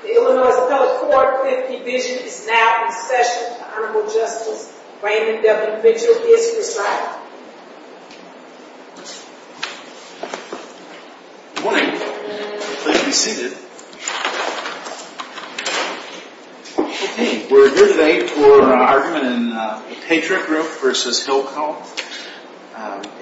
The Illinois Appellate Court Division is now in session. The Honorable Justice Raymond W. Mitchell is presiding. Good morning. Please be seated. We're here today for an argument in the Patriot Group v. Hilco.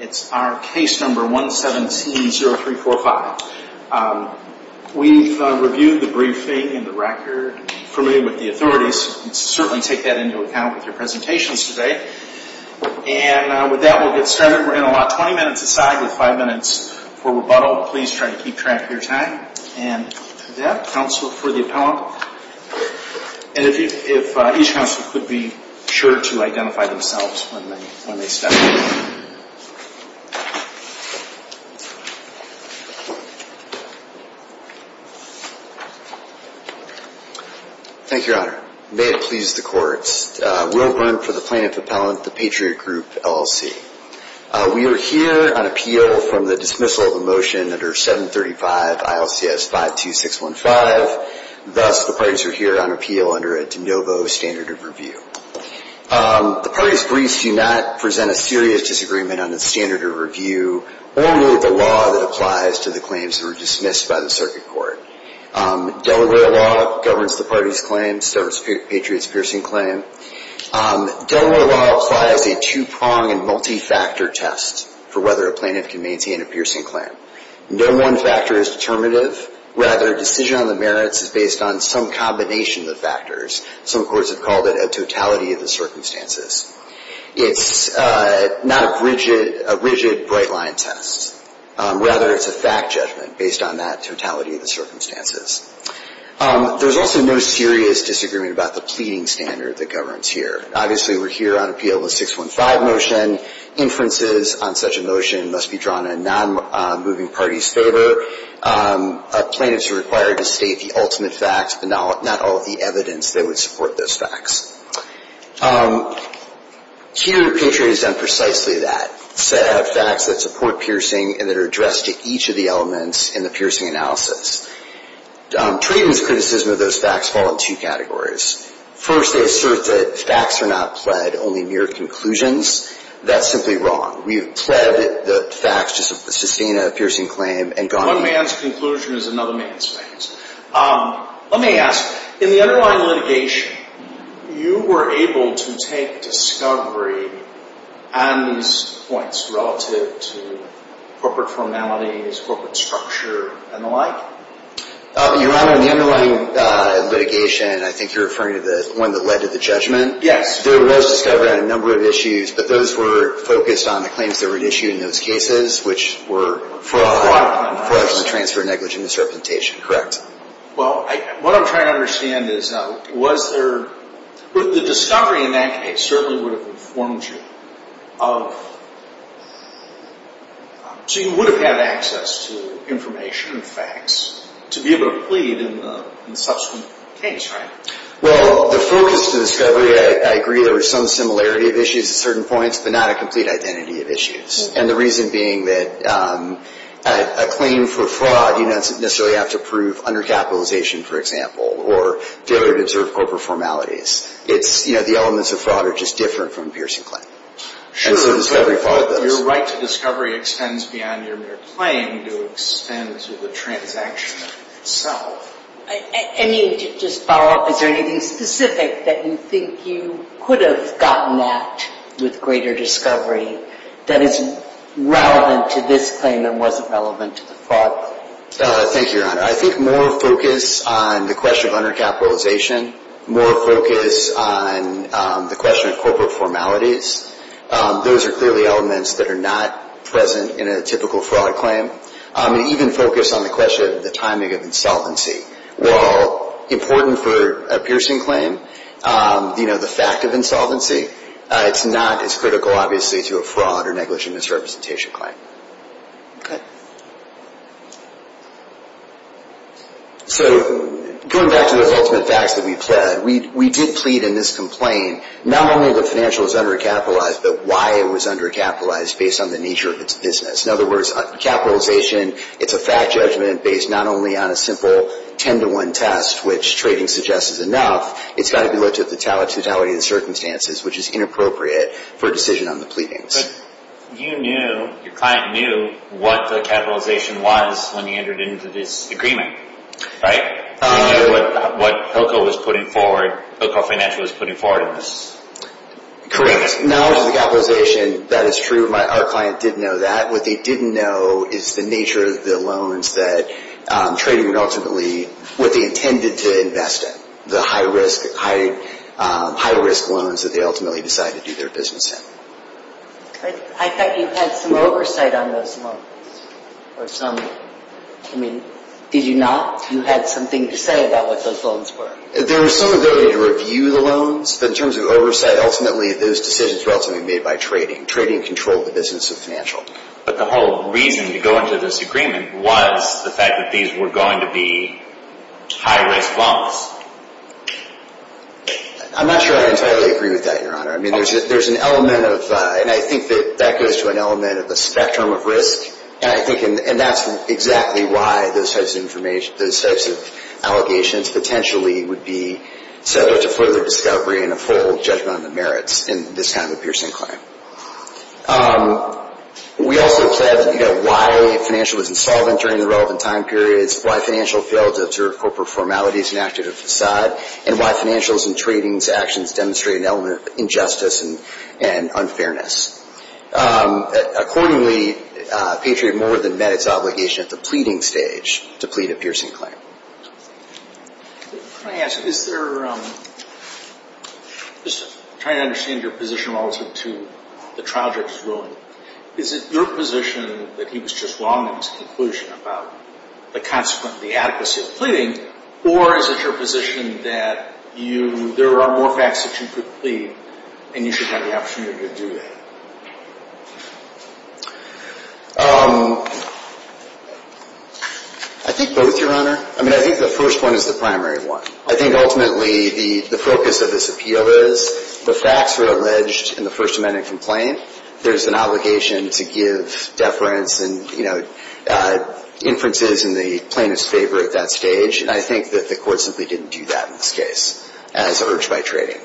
It's our case number 1170345. We've reviewed the briefing and the record for me with the authorities. You can certainly take that into account with your presentations today. And with that, we'll get started. We're going to allot 20 minutes a side with 5 minutes for rebuttal. Please try to keep track of your time. And with that, counsel for the appellant. And if each counsel could be sure to identify themselves when they step forward. Thank you, Your Honor. May it please the courts. Will Brunt for the plaintiff appellant, the Patriot Group LLC. We are here on appeal from the dismissal of a motion under 735 ILCS 52615. Thus, the parties are here on appeal under a de novo standard of review. The parties briefed do not present a serious disagreement on the standard of review or the law that applies to the claims that were dismissed by the circuit court. Delaware law governs the parties' claims. There's Patriot's piercing claim. Delaware law applies a two-pronged and multi-factor test for whether a plaintiff can maintain a piercing claim. No one factor is determinative. Rather, decision on the merits is based on some combination of factors. Some courts have called it a totality of the circumstances. It's not a rigid, bright-line test. Rather, it's a fact judgment based on that totality of the circumstances. There's also no serious disagreement about the pleading standard that governs here. Obviously, we're here on appeal with 615 motion. Inferences on such a motion must be drawn in non-moving parties' favor. Plaintiffs are required to state the ultimate facts, but not all of the evidence that would support those facts. Here, Patriot has done precisely that, set out facts that support piercing and that are addressed to each of the elements in the piercing analysis. Trayton's criticism of those facts fall in two categories. First, they assert that facts are not pled, only mere conclusions. That's simply wrong. We have pled the facts to sustain a piercing claim and gone on. One man's conclusion is another man's claims. Let me ask, in the underlying litigation, you were able to take discovery and points relative to corporate formalities, corporate structure, and the like? Your Honor, in the underlying litigation, I think you're referring to the one that led to the judgment? Yes. There was discovery on a number of issues, but those were focused on the claims that were issued in those cases, which were fraud, fraudulent transfer, negligent disrepresentation, correct? Well, what I'm trying to understand is, was there – the discovery in that case certainly would have informed you of – so you would have had access to information and facts to be able to plead in the subsequent case, right? Well, the focus of the discovery, I agree there was some similarity of issues at certain points, but not a complete identity of issues. And the reason being that a claim for fraud, you don't necessarily have to prove undercapitalization, for example, or failure to observe corporate formalities. It's – you know, the elements of fraud are just different from a piercing claim. Sure. Your right to discovery extends beyond your mere claim to extend to the transaction itself. I mean, to just follow up, is there anything specific that you think you could have gotten at with greater discovery that is relevant to this claim and wasn't relevant to the fraud? Thank you, Your Honor. I think more focus on the question of undercapitalization, more focus on the question of corporate formalities. Those are clearly elements that are not present in a typical fraud claim. And even focus on the question of the timing of insolvency. While important for a piercing claim, you know, the fact of insolvency, it's not as critical, obviously, to a fraud or negligent misrepresentation claim. Okay. So going back to those ultimate facts that we pled, we did plead in this complaint, not only that financial was undercapitalized, but why it was undercapitalized based on the nature of its business. In other words, capitalization, it's a fact judgment based not only on a simple 10-to-1 test, which trading suggests is enough, it's got to be looked at the totality of the circumstances, which is inappropriate for a decision on the pleadings. But you knew, your client knew, what the capitalization was when he entered into this agreement, right? He knew what Hillco was putting forward, Hillco Financial was putting forward in this. Correct. Knowledge of the capitalization, that is true. Our client did know that. What they didn't know is the nature of the loans that trading would ultimately, what they intended to invest in, the high-risk loans that they ultimately decided to do their business in. I thought you had some oversight on those loans, or some, I mean, did you not? You had something to say about what those loans were. There was some ability to review the loans, but in terms of oversight, ultimately, those decisions were ultimately made by trading. Trading controlled the business of financial. But the whole reason to go into this agreement was the fact that these were going to be high-risk loans. I'm not sure I entirely agree with that, Your Honor. I mean, there's an element of, and I think that that goes to an element of the spectrum of risk, and I think that's exactly why those types of allegations potentially would be subject to further discovery and a full judgment on the merits in this kind of a piercing claim. We also said, you know, why financial was insolvent during the relevant time periods, why financial failed to observe corporate formalities and acted as a facade, and why financials and trading's actions demonstrated an element of injustice and unfairness. Accordingly, Patriot more than met its obligation at the pleading stage to plead a piercing claim. Can I ask, is there, just trying to understand your position relative to the trial judge's ruling, is it your position that he was just wrong in his conclusion about the consequence, the adequacy of pleading, or is it your position that you, there are more facts that you could plead, and you should have the opportunity to do that? I think both, Your Honor. I mean, I think the first one is the primary one. I think ultimately the focus of this appeal is the facts were alleged in the First Amendment complaint. There's an obligation to give deference and, you know, inferences in the plaintiff's favor at that stage, and I think that the court simply didn't do that in this case as urged by trading.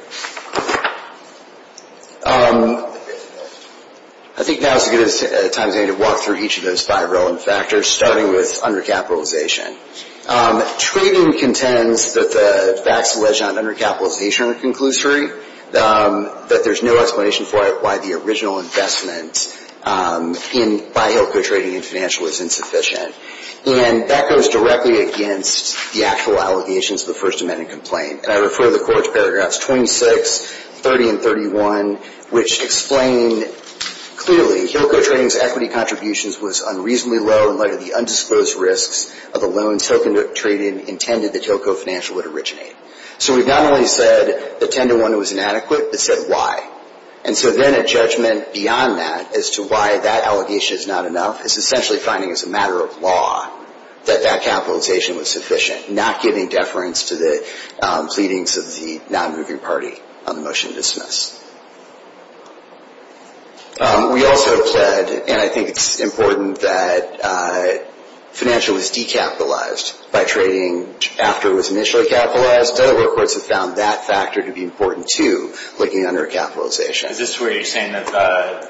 I think now is a good time to walk through each of those five relevant factors, starting with undercapitalization. Trading contends that the facts alleged on undercapitalization are conclusory, that there's no explanation for it, why the original investment in Buy Hill co-trading and financial is insufficient, and that goes directly against the actual allegations of the First Amendment complaint, and I refer to the court's paragraphs 26, 30, and 31, which explain clearly Hill co-trading's equity contributions was unreasonably low in light of the undisclosed risks of a loan token trading intended that Hill co-financial would originate. So we've not only said that 10 to 1 was inadequate, but said why. And so then a judgment beyond that as to why that allegation is not enough is essentially finding as a matter of law that that capitalization was sufficient, not giving deference to the pleadings of the non-moving party on the motion to dismiss. We also said, and I think it's important, that financial was decapitalized by trading after it was initially capitalized. Other work courts have found that factor to be important, too, looking undercapitalization. Is this where you're saying that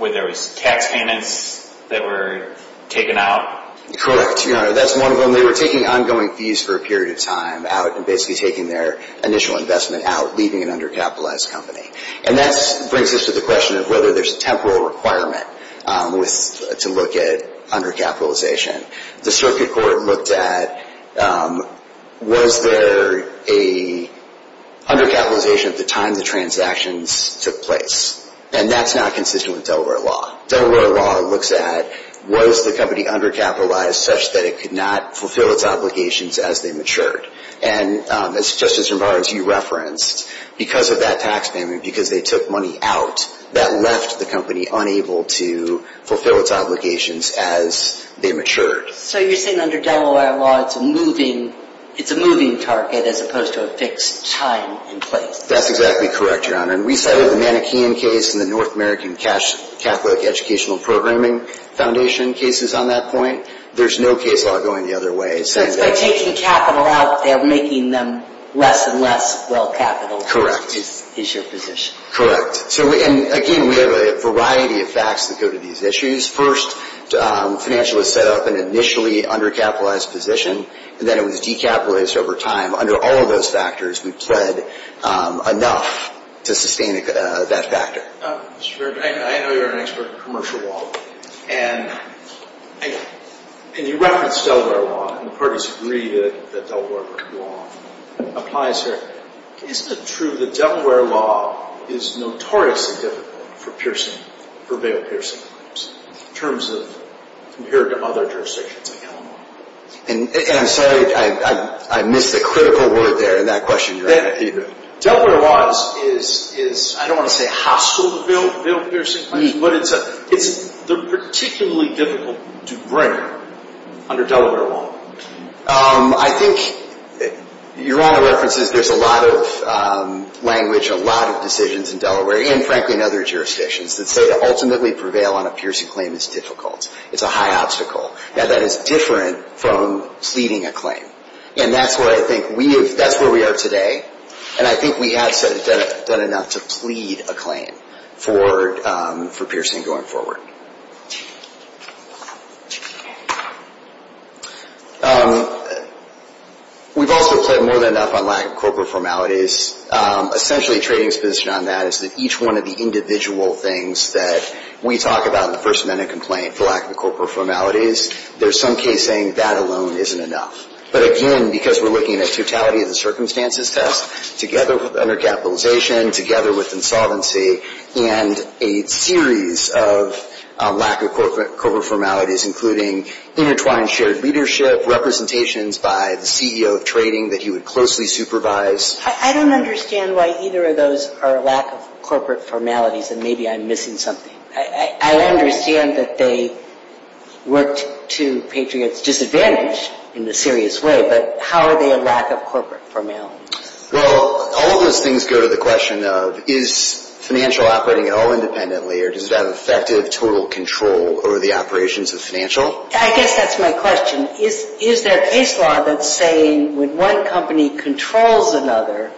there was tax payments that were taken out? Correct, Your Honor. That's one of them. They were taking ongoing fees for a period of time out, and basically taking their initial investment out, leaving an undercapitalized company. And that brings us to the question of whether there's a temporal requirement to look at undercapitalization. The circuit court looked at, was there a undercapitalization at the time the transactions took place? And that's not consistent with Delaware law. Delaware law looks at, was the company undercapitalized such that it could not fulfill its obligations as they matured? And, as Justice Romares, you referenced, because of that tax payment, because they took money out, that left the company unable to fulfill its obligations as they matured. So you're saying under Delaware law, it's a moving target as opposed to a fixed time and place? That's exactly correct, Your Honor. And we settled the Mannequin case and the North American Catholic Educational Programming Foundation cases on that point. There's no case law going the other way. So it's by taking capital out, they're making them less and less well-capitalized is your position? Correct. So, again, we have a variety of facts that go to these issues. First, financialists set up an initially undercapitalized position, and then it was decapitalized over time. Under all of those factors, we've pled enough to sustain that factor. Mr. Merrick, I know you're an expert in commercial law, and you referenced Delaware law, and the parties agreed that Delaware law applies here. Isn't it true that Delaware law is notoriously difficult for bail-piercing claims, compared to other jurisdictions like Illinois? I'm sorry, I missed a critical word there in that question, Your Honor. Delaware law is, I don't want to say hostile to bail-piercing claims, but it's particularly difficult to bring under Delaware law. I think, Your Honor references, there's a lot of language, a lot of decisions in Delaware, and frankly in other jurisdictions, that say to ultimately prevail on a piercing claim is difficult. It's a high obstacle. Now, that is different from pleading a claim. And that's where I think we have, that's where we are today, and I think we have done enough to plead a claim for piercing going forward. We've also pled more than enough on lack of corporate formalities. Essentially, a trading position on that is that each one of the individual things that we talk about the lack of corporate formalities, there's some case saying that alone isn't enough. But again, because we're looking at totality of the circumstances test, together with undercapitalization, together with insolvency, and a series of lack of corporate formalities, including intertwined shared leadership, representations by the CEO of trading that he would closely supervise. I don't understand why either of those are lack of corporate formalities, and maybe I'm missing something. I understand that they worked to patriots' disadvantage in a serious way, but how are they a lack of corporate formalities? Well, all of those things go to the question of is financial operating at all independently, or does it have effective total control over the operations of financial? I guess that's my question. Is there a case law that's saying when one company controls another,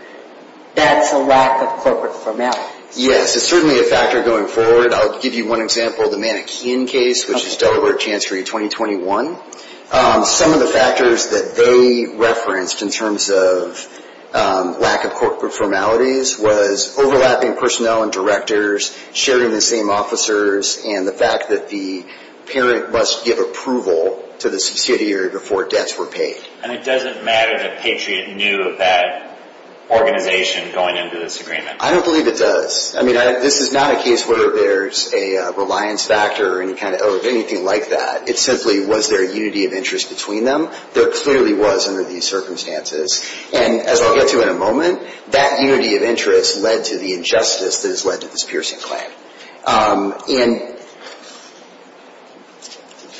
that's a lack of corporate formalities? Yes, it's certainly a factor going forward. I'll give you one example, the Mannequin case, which is Delaware Chancery 2021. Some of the factors that they referenced in terms of lack of corporate formalities was overlapping personnel and directors, sharing the same officers, and the fact that the parent must give approval to the subsidiary before debts were paid. And it doesn't matter that Patriot knew of that organization going into this agreement? I don't believe it does. I mean, this is not a case where there's a reliance factor or anything like that. It simply was there a unity of interest between them. There clearly was under these circumstances, and as I'll get to in a moment, that unity of interest led to the injustice that has led to this piercing claim. And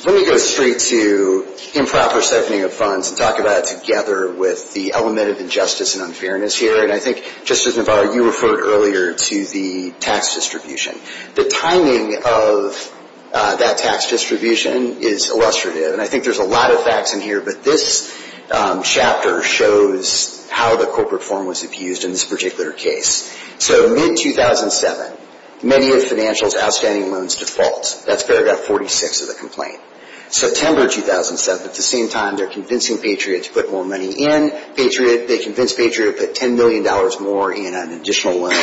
let me go straight to improper siphoning of funds and talk about it together with the element of injustice and unfairness here, and I think, Justice Navarro, you referred earlier to the tax distribution. The timing of that tax distribution is illustrative, and I think there's a lot of facts in here, but this chapter shows how the corporate form was abused in this particular case. So mid-2007, many of financials outstanding loans default. That's paragraph 46 of the complaint. September 2007, at the same time they're convincing Patriot to put more money in, they convince Patriot to put $10 million more in an additional loan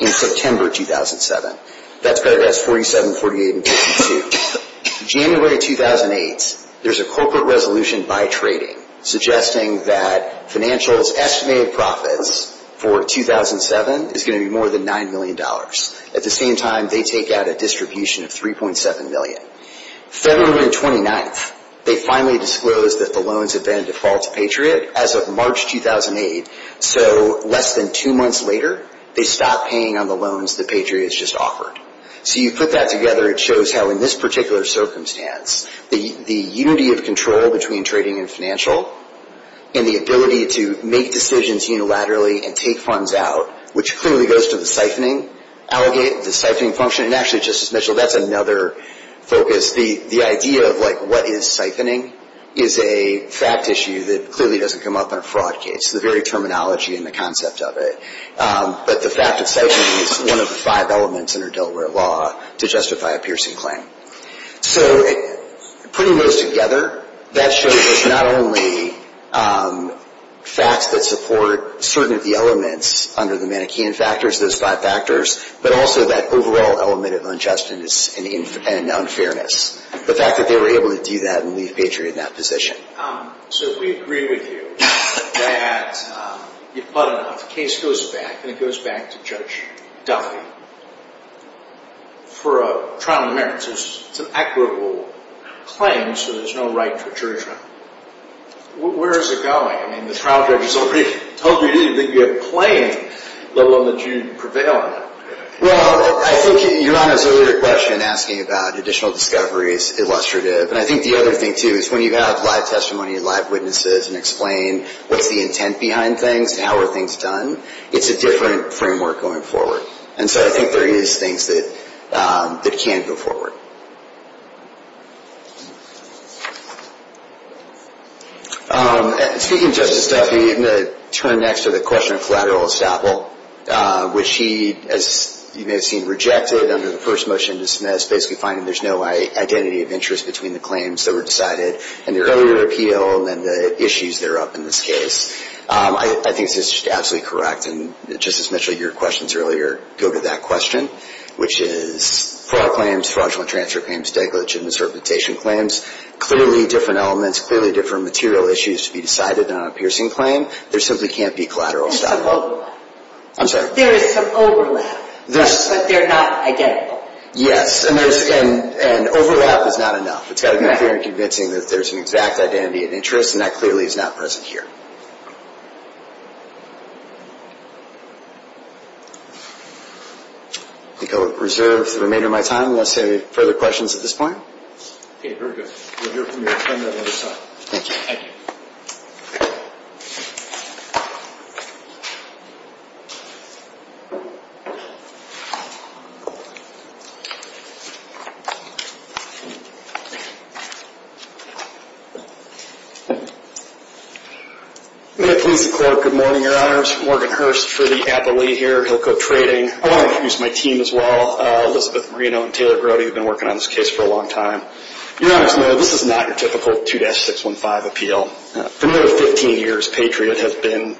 in September 2007. That's paragraphs 47, 48, and 52. January 2008, there's a corporate resolution by trading suggesting that financials' estimated profits for 2007 is going to be more than $9 million. At the same time, they take out a distribution of $3.7 million. February 29th, they finally disclose that the loans have been in default to Patriot. As of March 2008, so less than two months later, they stop paying on the loans that Patriot has just offered. So you put that together, it shows how in this particular circumstance, the unity of control between trading and financial and the ability to make decisions unilaterally and take funds out, which clearly goes to the siphoning, the siphoning function, and actually, Justice Mitchell, that's another focus. The idea of what is siphoning is a fact issue that clearly doesn't come up in a fraud case, the very terminology and the concept of it. But the fact of siphoning is one of the five elements in our Delaware law to justify a piercing claim. So putting those together, that shows that it's not only facts that support certain of the elements under the Mannequin factors, those five factors, but also that overall element of unjustness and unfairness. The fact that they were able to do that and leave Patriot in that position. So if we agree with you that, you put it out, the case goes back, and it goes back to Judge Duffy for a trial in the merits. It's an equitable claim, so there's no right to a jury trial. Where is it going? I mean, the trial judge has already told you it is going to be a plain, let alone that you prevail on it. Well, I think Your Honor's earlier question asking about additional discovery is illustrative. And I think the other thing, too, is when you have live testimony, live witnesses, and explain what's the intent behind things, how are things done, it's a different framework going forward. And so I think there is things that can go forward. Speaking of Justice Duffy, I'm going to turn next to the question of collateral estoppel, which he, as you may have seen, rejected under the first motion to dismiss, basically finding there's no identity of interest between the claims that were decided in the earlier appeal and the issues that are up in this case. I think this is absolutely correct, and, Justice Mitchell, your questions earlier go to that question, which is fraud claims, fraudulent charges. Fraudulent charges, transfer claims, negligent misrepresentation claims, clearly different elements, clearly different material issues to be decided on a piercing claim. There simply can't be collateral estoppel. I'm sorry? There is some overlap, but they're not identical. Yes, and overlap is not enough. It's got to be clear and convincing that there's an exact identity and interest, and that clearly is not present here. I think I will reserve the remainder of my time unless there are any further questions at this point. Okay, very good. We'll hear from you on the other side. Thank you. Thank you. May it please the Court, good morning, Your Honors. Morgan Hurst for the Appellee here, Hilco Trading. I want to introduce my team as well. Elizabeth Marino and Taylor Grody have been working on this case for a long time. Your Honors, this is not your typical 2-615 appeal. For nearly 15 years, Patriot has been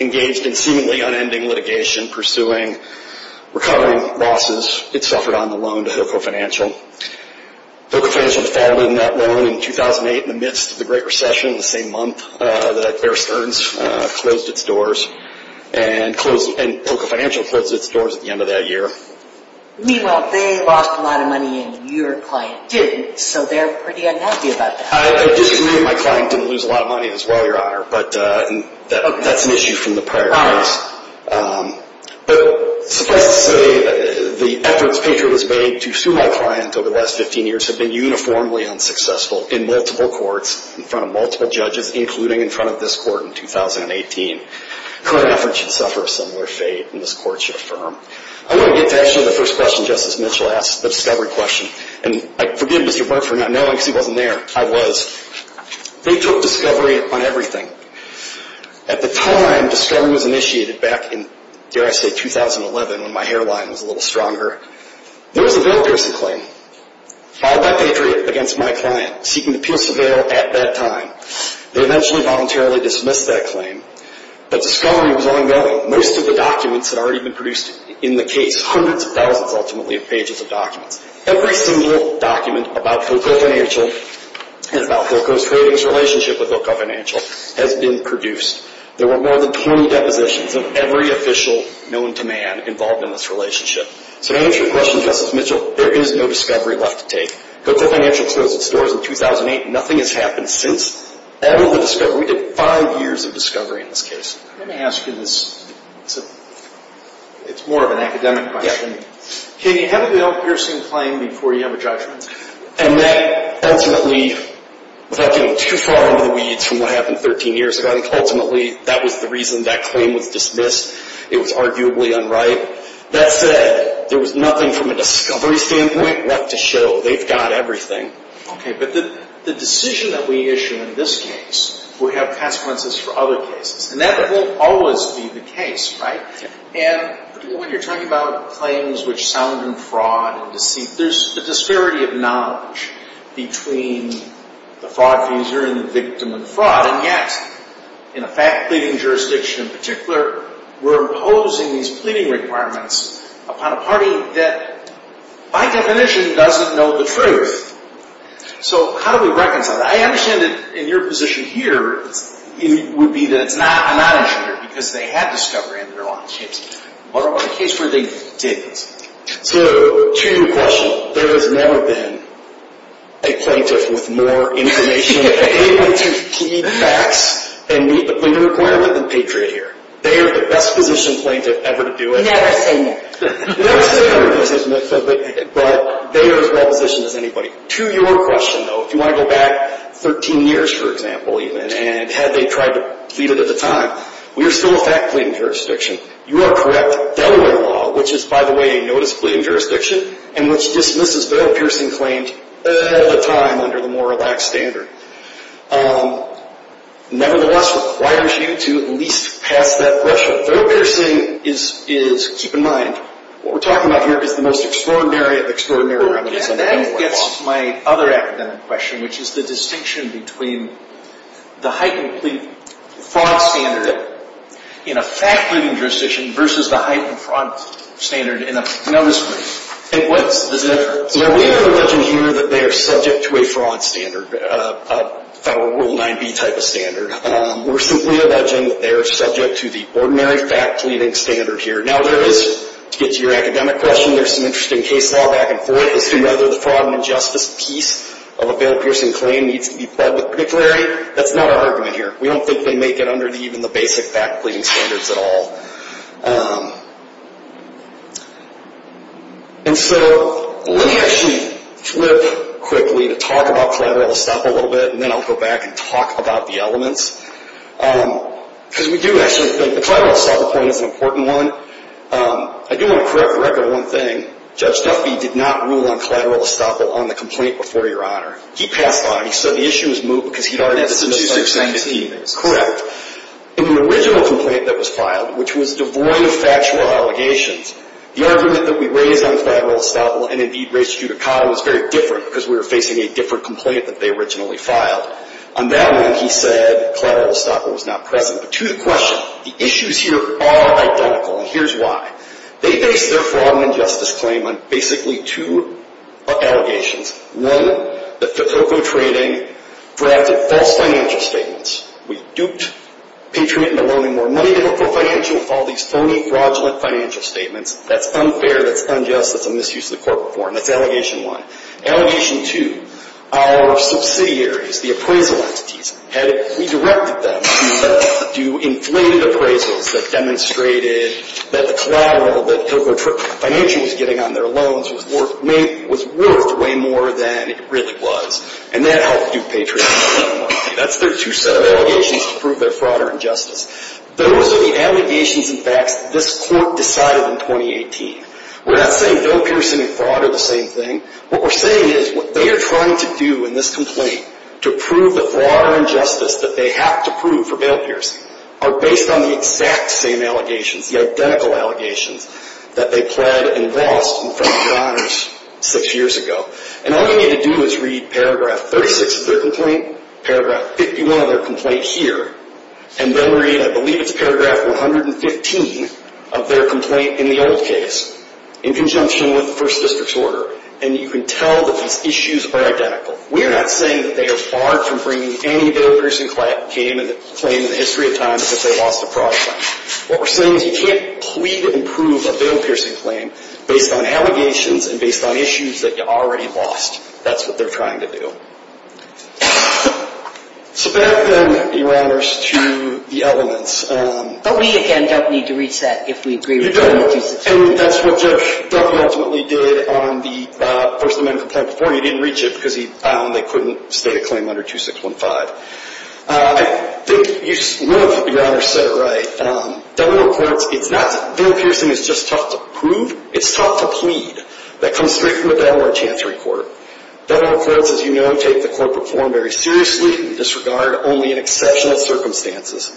engaged in seemingly unending litigation, pursuing, recovering losses. It suffered on the loan to Hilco Financial. Hilco Financial defaulted on that loan in 2008 in the midst of the Great Recession, the same month that Bear Stearns closed its doors, and Hilco Financial closed its doors at the end of that year. Meanwhile, they lost a lot of money and your client didn't, so they're pretty unhappy about that. I disagree with my client didn't lose a lot of money as well, Your Honor, but that's an issue from the prior case. But suffice to say that the efforts Patriot has made to sue my client over the last 15 years have been uniformly unsuccessful in multiple courts, in front of multiple judges, including in front of this court in 2018. Current efforts should suffer a similar fate, and this court should affirm. I want to get to actually the first question Justice Mitchell asked, the discovery question. And I forgive Mr. Burt for not knowing because he wasn't there. I was. They took discovery on everything. At the time discovery was initiated back in, dare I say, 2011 when my hairline was a little stronger, there was a very personal claim filed by Patriot against my client seeking appeals to bail at that time. They eventually voluntarily dismissed that claim, but discovery was ongoing. Most of the documents had already been produced in the case, hundreds of thousands ultimately of pages of documents. Every single document about Hilco Financial and about Hilco's previous relationship with Hilco Financial has been produced. There were more than 20 depositions of every official known to man involved in this relationship. So to answer your question, Justice Mitchell, there is no discovery left to take. Hilco Financial closed its doors in 2008. Nothing has happened since. We did five years of discovery in this case. Let me ask you this. It's more of an academic question. Can you have a bail-piercing claim before you have a judgment? And that ultimately, without getting too far into the weeds from what happened 13 years ago, I think ultimately that was the reason that claim was dismissed. It was arguably unright. That said, there was nothing from a discovery standpoint left to show. They've got everything. Okay, but the decision that we issue in this case will have consequences for other cases. And that won't always be the case, right? Yeah. And when you're talking about claims which sound in fraud and deceit, there's a disparity of knowledge between the fraud user and the victim in fraud. And yet, in a fact-pleading jurisdiction in particular, we're imposing these pleading requirements upon a party that, by definition, doesn't know the truth. So how do we reconcile that? I understand that in your position here, it would be that it's not a non-insurer because they had discovery under their lawn chips. What about a case where they didn't? So to your question, there has never been a plaintiff with more information and able to keep facts and meet the pleading requirement than Patriot here. They are the best position plaintiff ever to do it. Never say never. Never say never, but they are as well positioned as anybody. To your question, though, if you want to go back 13 years, for example, even, and had they tried to plead it at the time, we are still a fact-pleading jurisdiction. You are correct. Delaware law, which is, by the way, a notice-pleading jurisdiction, and which dismisses bail-piercing claims all the time under the more relaxed standard, nevertheless requires you to at least pass that threshold. Bail-piercing is, keep in mind, what we're talking about here is the most extraordinary, extraordinary remedies under Delaware law. That gets my other academic question, which is the distinction between the height and plead fraud standard in a fact-pleading jurisdiction versus the height and fraud standard in a notice-pleading. And what is the difference? Now, we are not alleging here that they are subject to a fraud standard, a foul rule 9b type of standard. We're simply alleging that they are subject to the ordinary fact-pleading standard here. Now, there is, to get to your academic question, there's an interesting case law back and forth as to whether the fraud and injustice piece of a bail-piercing claim needs to be pled with particularity. That's not our argument here. We don't think they make it under even the basic fact-pleading standards at all. And so let me actually flip quickly to talk about collateral estoppel a little bit, and then I'll go back and talk about the elements. Because we do actually think the collateral estoppel point is an important one. I do want to correct the record on one thing. Judge Duffy did not rule on collateral estoppel on the complaint before your honor. He passed on it. So the issue was moved because he'd already had the statistics in his team. Correct. In the original complaint that was filed, which was devoid of factual allegations, the argument that we raised on collateral estoppel and, indeed, raised judicata was very different because we were facing a different complaint that they originally filed. On that one, he said collateral estoppel was not present. But to the question, the issues here are identical, and here's why. They based their fraud and injustice claim on basically two allegations, one, that Hilco Trading drafted false financial statements. We duped Patriot into loaning more money to Hilco Financial with all these phony, fraudulent financial statements. That's unfair. That's unjust. That's a misuse of the court form. That's allegation one. Allegation two, our subsidiaries, the appraisal entities, we directed them to do inflated appraisals that demonstrated that the collateral that Hilco Financial was getting on their loans was worth way more than it really was, and that helped dupe Patriot into loaning more money. That's their two set of allegations to prove their fraud or injustice. Those are the allegations and facts that this court decided in 2018. We're not saying Bill Pierson and fraud are the same thing. What we're saying is what they are trying to do in this complaint to prove the fraud or injustice that they have to prove for Bill Pierson are based on the exact same allegations, the identical allegations, that they pled and lost in front of your eyes six years ago. And all you need to do is read paragraph 36 of their complaint, paragraph 51 of their complaint here, and then read, I believe it's paragraph 115 of their complaint in the old case in conjunction with the first district's order, and you can tell that these issues are identical. We're not saying that they are far from bringing any Bill Pierson claim in the history of time because they lost a fraud claim. What we're saying is you can't plead and prove a Bill Pierson claim based on allegations and based on issues that you already lost. That's what they're trying to do. So back, then, Your Honors, to the elements. But we, again, don't need to reach that if we agree with you. You don't, and that's what Jeff ultimately did on the First Amendment complaint before. He didn't reach it because he found they couldn't state a claim under 2615. I think you know if Your Honors said it right. Federal courts, it's not that Bill Pierson is just taught to prove. It's taught to plead. That comes straight from the Delaware Chancery Court. Federal courts, as you know, take the corporate form very seriously and disregard only in exceptional circumstances.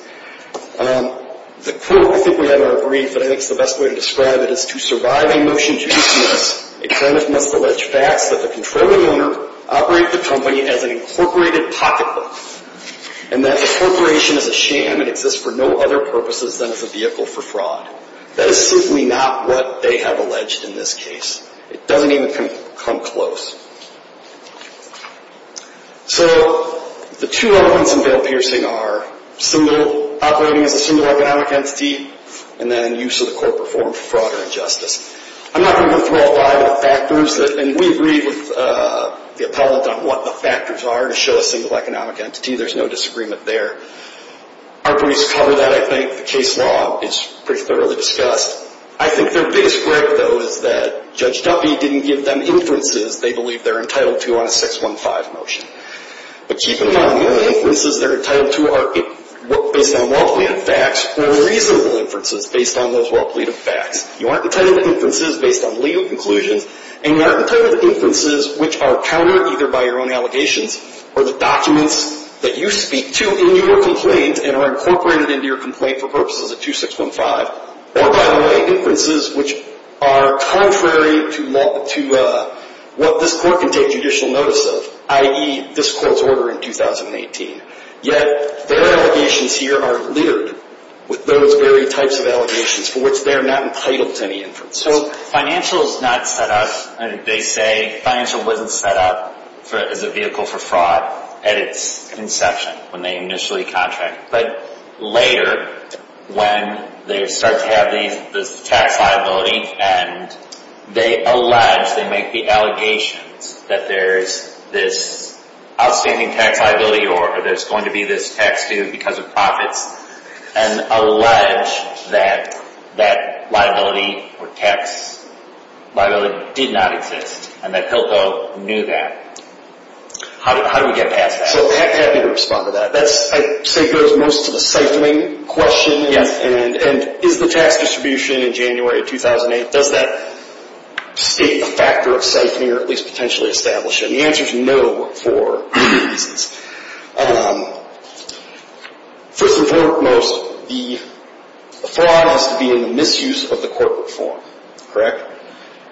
The quote, I think we have in our brief, but I think it's the best way to describe it is, to survive a motion to use in this, a client must allege facts that the controlling owner operated the company as an incorporated pocket book, and that the corporation is a sham and exists for no other purposes than as a vehicle for fraud. That is simply not what they have alleged in this case. It doesn't even come close. So the two elements in Bill Pierson are operating as a single economic entity and then use of the corporate form for fraud or injustice. I'm not going to go through all five of the factors, and we agree with the appellate on what the factors are to show a single economic entity. There's no disagreement there. Our briefs cover that, I think. The case law is pretty thoroughly discussed. I think their biggest break, though, is that Judge Duffy didn't give them inferences they believe they're entitled to on a 615 motion. But keep in mind, the inferences they're entitled to are based on well-planned facts or reasonable inferences based on those well-planned facts. You aren't entitled to inferences based on legal conclusions, and you aren't entitled to inferences which are countered either by your own allegations or the documents that you speak to in your complaint and are incorporated into your complaint for purposes of 2615, or, by the way, inferences which are contrary to what this court can take judicial notice of, i.e., this court's order in 2018. Yet their allegations here are littered with those very types of allegations for which they're not entitled to any inferences. So financial is not set up, and they say financial wasn't set up as a vehicle for fraud at its inception, when they initially contracted. But later, when they start to have this tax liability and they allege, they make the allegations, that there's this outstanding tax liability or there's going to be this tax due because of profits, and allege that that liability or tax liability did not exist and that Pilko knew that, how do we get past that? So happy to respond to that. That, I'd say, goes most to the siphoning question. Yes. And is the tax distribution in January of 2008, does that state the factor of siphoning or at least potentially establish it? And the answer is no for many reasons. First and foremost, the fraud has to be in the misuse of the corporate form. Correct?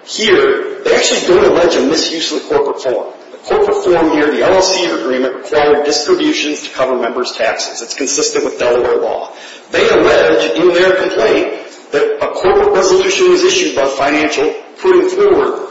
Here, they actually don't allege a misuse of the corporate form. The corporate form here, the LLC agreement, required distributions to cover members' taxes. It's consistent with Delaware law. They allege in their complaint that a corporate resolution is issued by financial putting forward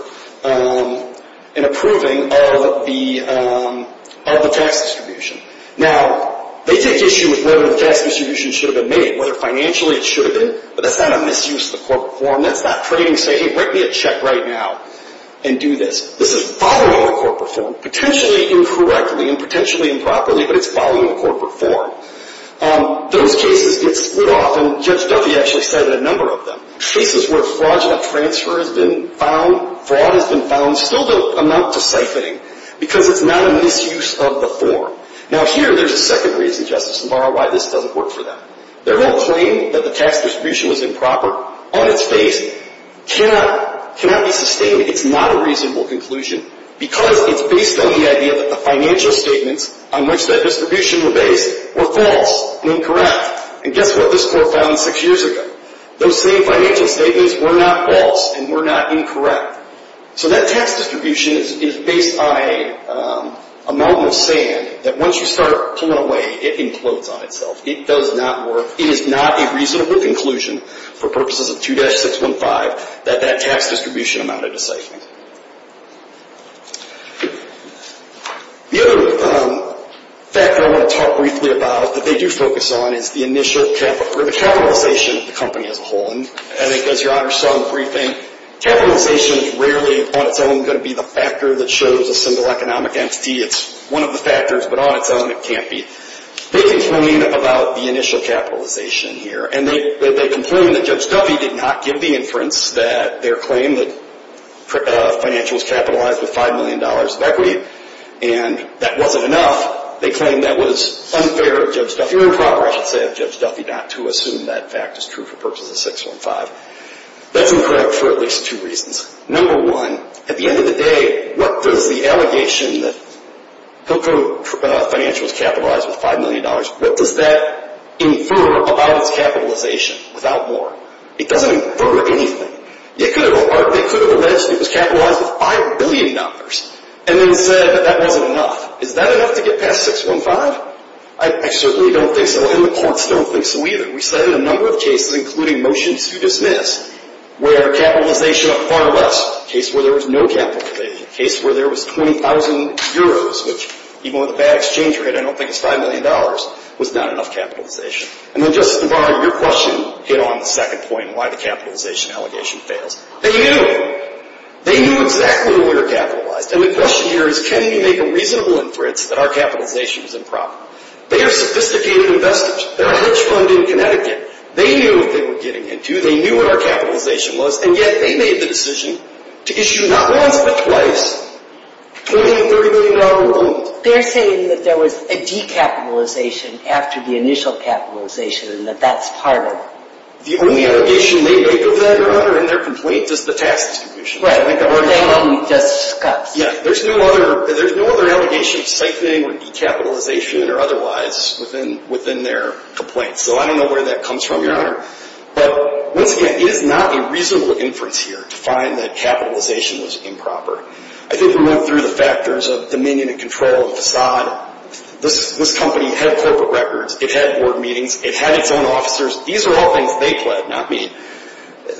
and approving of the tax distribution. Now, they take issue with whether the tax distribution should have been made, whether financially it should have been. But that's not a misuse of the corporate form. That's not trading saying, hey, write me a check right now and do this. This is following the corporate form, potentially incorrectly and potentially improperly, but it's following the corporate form. Those cases get split off, and Judge Duffy actually cited a number of them. Cases where fraudulent transfer has been found, fraud has been found, still don't amount to siphoning because it's not a misuse of the form. Now, here there's a second reason, Justice Navarro, why this doesn't work for them. Their whole claim that the tax distribution was improper on its face cannot be sustained. It's not a reasonable conclusion because it's based on the idea that the financial statements on which that distribution were based were false and incorrect. And guess what this court found six years ago? Those same financial statements were not false and were not incorrect. So that tax distribution is based on a mountain of sand that once you start pulling away, it implodes on itself. It does not work. It is not a reasonable conclusion for purposes of 2-615 that that tax distribution amounted to siphoning. The other factor I want to talk briefly about that they do focus on is the initial capitalization of the company as a whole. And as Your Honor saw in the briefing, capitalization is rarely on its own going to be the factor that shows a single economic entity. It's one of the factors, but on its own it can't be. They complain about the initial capitalization here, and they complain that Judge Duffy did not give the inference that their claim that financials capitalized with $5 million of equity, and that wasn't enough. They claim that was unfair of Judge Duffy or improper, I should say, of Judge Duffy not to assume that fact is true for purposes of 615. That's incorrect for at least two reasons. Number one, at the end of the day, what does the allegation that Hilco financials capitalized with $5 million, what does that infer about its capitalization without more? It doesn't infer anything. They could have alleged it was capitalized with $5 billion and then said that that wasn't enough. Is that enough to get past 615? I certainly don't think so, and the courts don't think so either. We cited a number of cases, including motions to dismiss, where capitalization of far less, a case where there was no capital, a case where there was 20,000 euros, which even with a bad exchange rate, I don't think it's $5 million, was not enough capitalization. And then just to borrow your question, get on the second point, why the capitalization allegation fails. They knew. They knew exactly where it capitalized, and the question here is, can we make a reasonable inference that our capitalization was improper? They are sophisticated investors. They're a hedge fund in Connecticut. They knew what they were getting into. They knew what our capitalization was, and yet they made the decision to issue not once but twice $20 and $30 million loans. They're saying that there was a decapitalization after the initial capitalization and that that's part of it. The only allegation they make of that, Your Honor, in their complaint, is the tax distribution. Right. They only discussed. Yeah. There's no other allegation of siphoning or decapitalization or otherwise within their complaint. So I don't know where that comes from, Your Honor. But once again, it is not a reasonable inference here to find that capitalization was improper. I think we went through the factors of dominion and control of the facade. This company had corporate records. It had board meetings. It had its own officers. These are all things they pled, not me.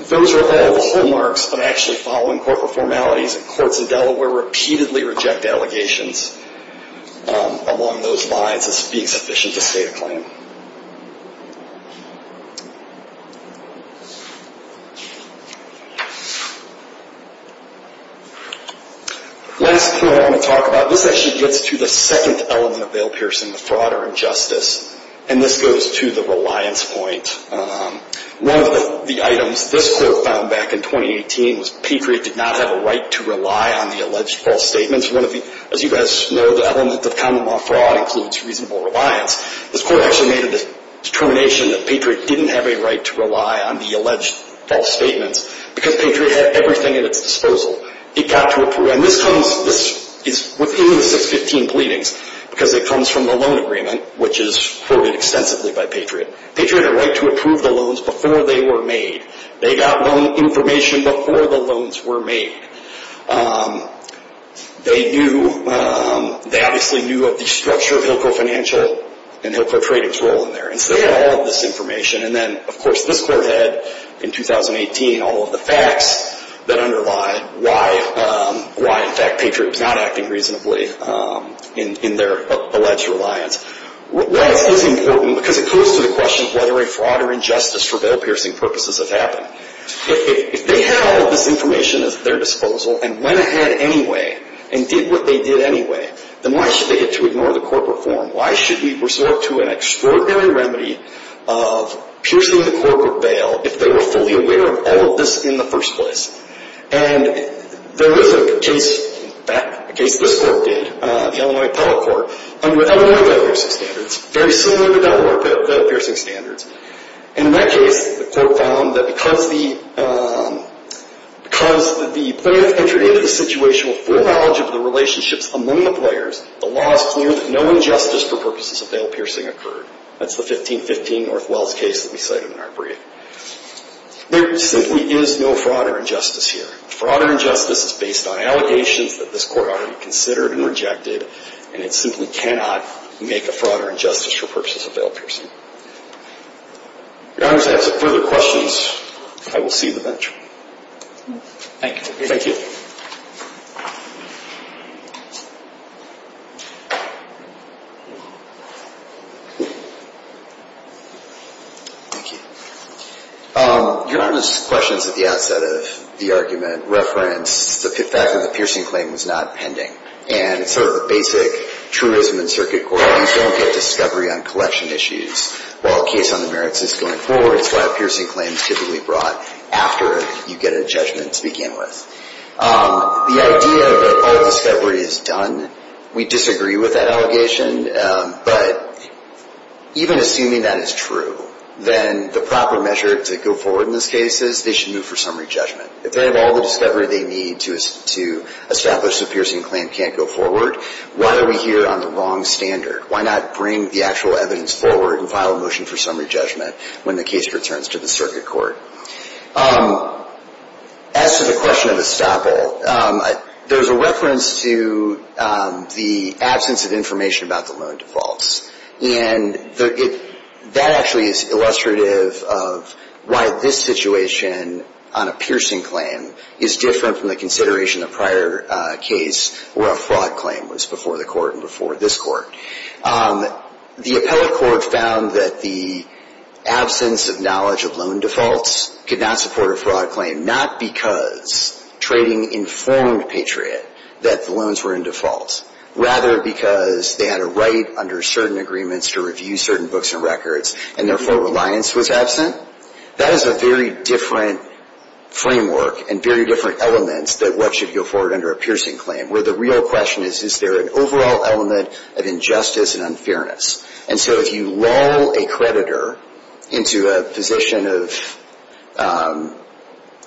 Those are all the hallmarks of actually following corporate formalities. Courts in Delaware repeatedly reject allegations along those lines as being sufficient to state a claim. Last thing I want to talk about. This actually gets to the second element of bail piercing, the fraud or injustice. And this goes to the reliance point. One of the items this court found back in 2018 was Patriot did not have a right to rely on the alleged false statements. As you guys know, the element of common law fraud includes reasonable reliance. This court actually made a determination that Patriot didn't have a right to rely on the alleged false statements because Patriot had everything at its disposal. This is within the 615 pleadings because it comes from the loan agreement, which is quoted extensively by Patriot. Patriot had a right to approve the loans before they were made. They got loan information before the loans were made. They obviously knew of the structure of Hillco Financial and Hillco Trading's role in there. They had all of this information. And then, of course, this court had, in 2018, all of the facts that underlie why, in fact, Patriot was not acting reasonably in their alleged reliance. Well, this is important because it goes to the question of whether a fraud or injustice for bail piercing purposes has happened. If they had all of this information at their disposal and went ahead anyway and did what they did anyway, then why should they get to ignore the corporate form? Why should we resort to an extraordinary remedy of piercing the corporate bail if they were fully aware of all of this in the first place? And there was a case, in fact, a case this court did, the Illinois Appellate Court, under Illinois bail piercing standards, very similar to Delaware bail piercing standards. And in that case, the court found that because the player entered into the situation with full knowledge of the relationships among the players, the law is clear that no injustice for purposes of bail piercing occurred. That's the 1515 Northwells case that we cited in our brief. There simply is no fraud or injustice here. Fraud or injustice is based on allegations that this court already considered and rejected, and it simply cannot make a fraud or injustice for purposes of bail piercing. If Your Honor has any further questions, I will see you in the bench. Thank you. Thank you. Thank you. Thank you. Your Honor's questions at the outset of the argument reference the fact that the piercing claim was not pending. And it's sort of a basic truism in circuit court. You don't get discovery on collection issues while a case on the merits is going forward. That's why a piercing claim is typically brought after you get a judgment to begin with. The idea that all discovery is done, we disagree with that allegation. But even assuming that is true, then the proper measure to go forward in this case is they should move for summary judgment. If they have all the discovery they need to establish the piercing claim can't go forward, why are we here on the wrong standard? Why not bring the actual evidence forward and file a motion for summary judgment when the case returns to the circuit court? As to the question of estoppel, there's a reference to the absence of information about the loan defaults. And that actually is illustrative of why this situation on a piercing claim is different from the consideration of prior case where a fraud claim was before the court and before this court. The appellate court found that the absence of knowledge of loan defaults could not support a fraud claim, not because trading informed Patriot that the loans were in default, rather because they had a right under certain agreements to review certain books and records, and therefore reliance was absent. That is a very different framework and very different elements than what should go forward under a piercing claim, where the real question is, is there an overall element of injustice and unfairness? And so if you lull a creditor into a position of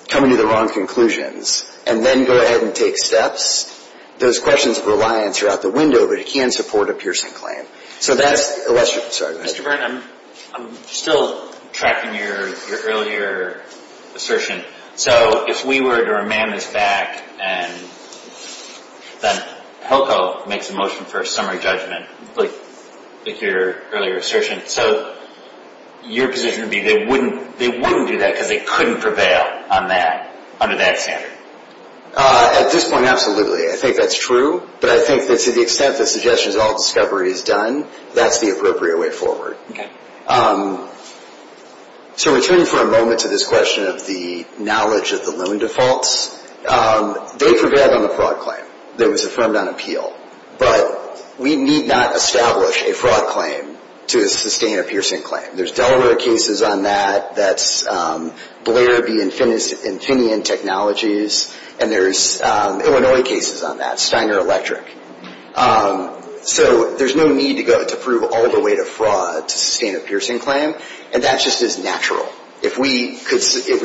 coming to the wrong conclusions and then go ahead and take steps, those questions of reliance are out the window, but it can support a piercing claim. Mr. Byrne, I'm still tracking your earlier assertion. So if we were to remand this back and then HELCO makes a motion for a summary judgment, like your earlier assertion, so your position would be they wouldn't do that because they couldn't prevail on that, under that standard? At this point, absolutely. I think that's true. But I think that to the extent that suggestions of all discovery is done, that's the appropriate way forward. Okay. So returning for a moment to this question of the knowledge of the loan defaults, they prevailed on the fraud claim that was affirmed on appeal, but we need not establish a fraud claim to sustain a piercing claim. There's Delaware cases on that, that's Blair v. Infineon Technologies, and there's Illinois cases on that, Steiner Electric. So there's no need to go to prove all the way to fraud to sustain a piercing claim, and that just is natural. If we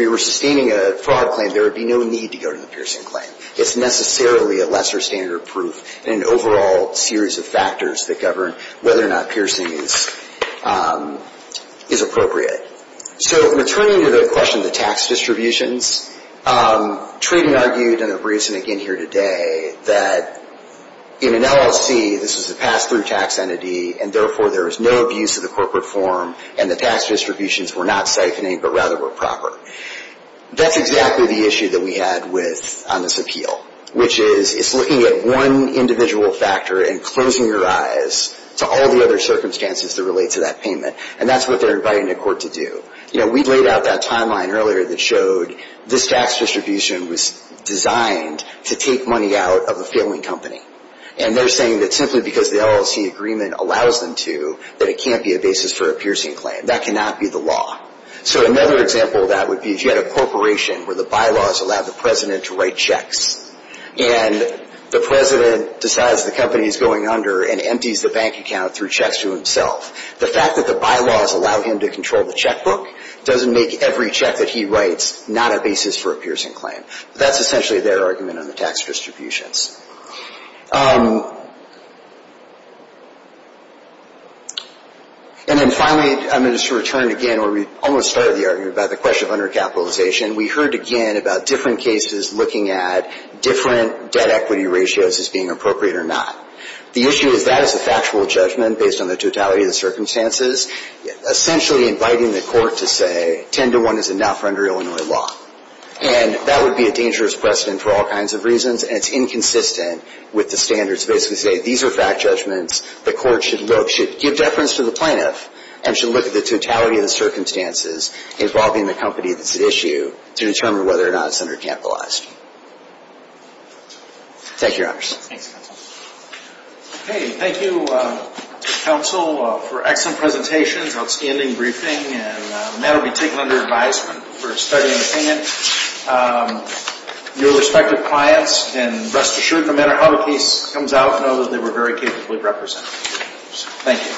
were sustaining a fraud claim, there would be no need to go to the piercing claim. It's necessarily a lesser standard of proof and an overall series of factors that govern whether or not piercing is appropriate. So returning to the question of the tax distributions, Trayden argued, and I'm briefing again here today, that in an LLC, this is a pass-through tax entity, and therefore there is no abuse of the corporate form, and the tax distributions were not siphoning, but rather were proper. That's exactly the issue that we had on this appeal, which is it's looking at one individual factor and closing your eyes to all the other circumstances that relate to that payment, and that's what they're inviting the court to do. You know, we laid out that timeline earlier that showed this tax distribution was designed to take money out of a failing company, and they're saying that simply because the LLC agreement allows them to, that it can't be a basis for a piercing claim. That cannot be the law. So another example of that would be if you had a corporation where the bylaws allowed the president to write checks, and the president decides the company is going under and empties the bank account through checks to himself. The fact that the bylaws allow him to control the checkbook doesn't make every check that he writes not a basis for a piercing claim. That's essentially their argument on the tax distributions. And then finally, I'm going to just return again where we almost started the argument about the question of undercapitalization. We heard again about different cases looking at different debt-equity ratios as being appropriate or not. The issue is that is a factual judgment based on the totality of the circumstances, essentially inviting the court to say 10 to 1 is enough under Illinois law. And that would be a dangerous precedent for all kinds of reasons, and it's inconsistent with the standards. Basically saying these are fact judgments. The court should look, should give deference to the plaintiff, and should look at the totality of the circumstances involving the company that's at issue to determine whether or not it's undercapitalized. Thank you, Your Honors. Thanks, Counsel. Okay, thank you, Counsel, for excellent presentations, outstanding briefing, and the matter will be taken under advisement for study and opinion. Your respective clients can rest assured, no matter how the case comes out, know that they were very capably represented. Thank you.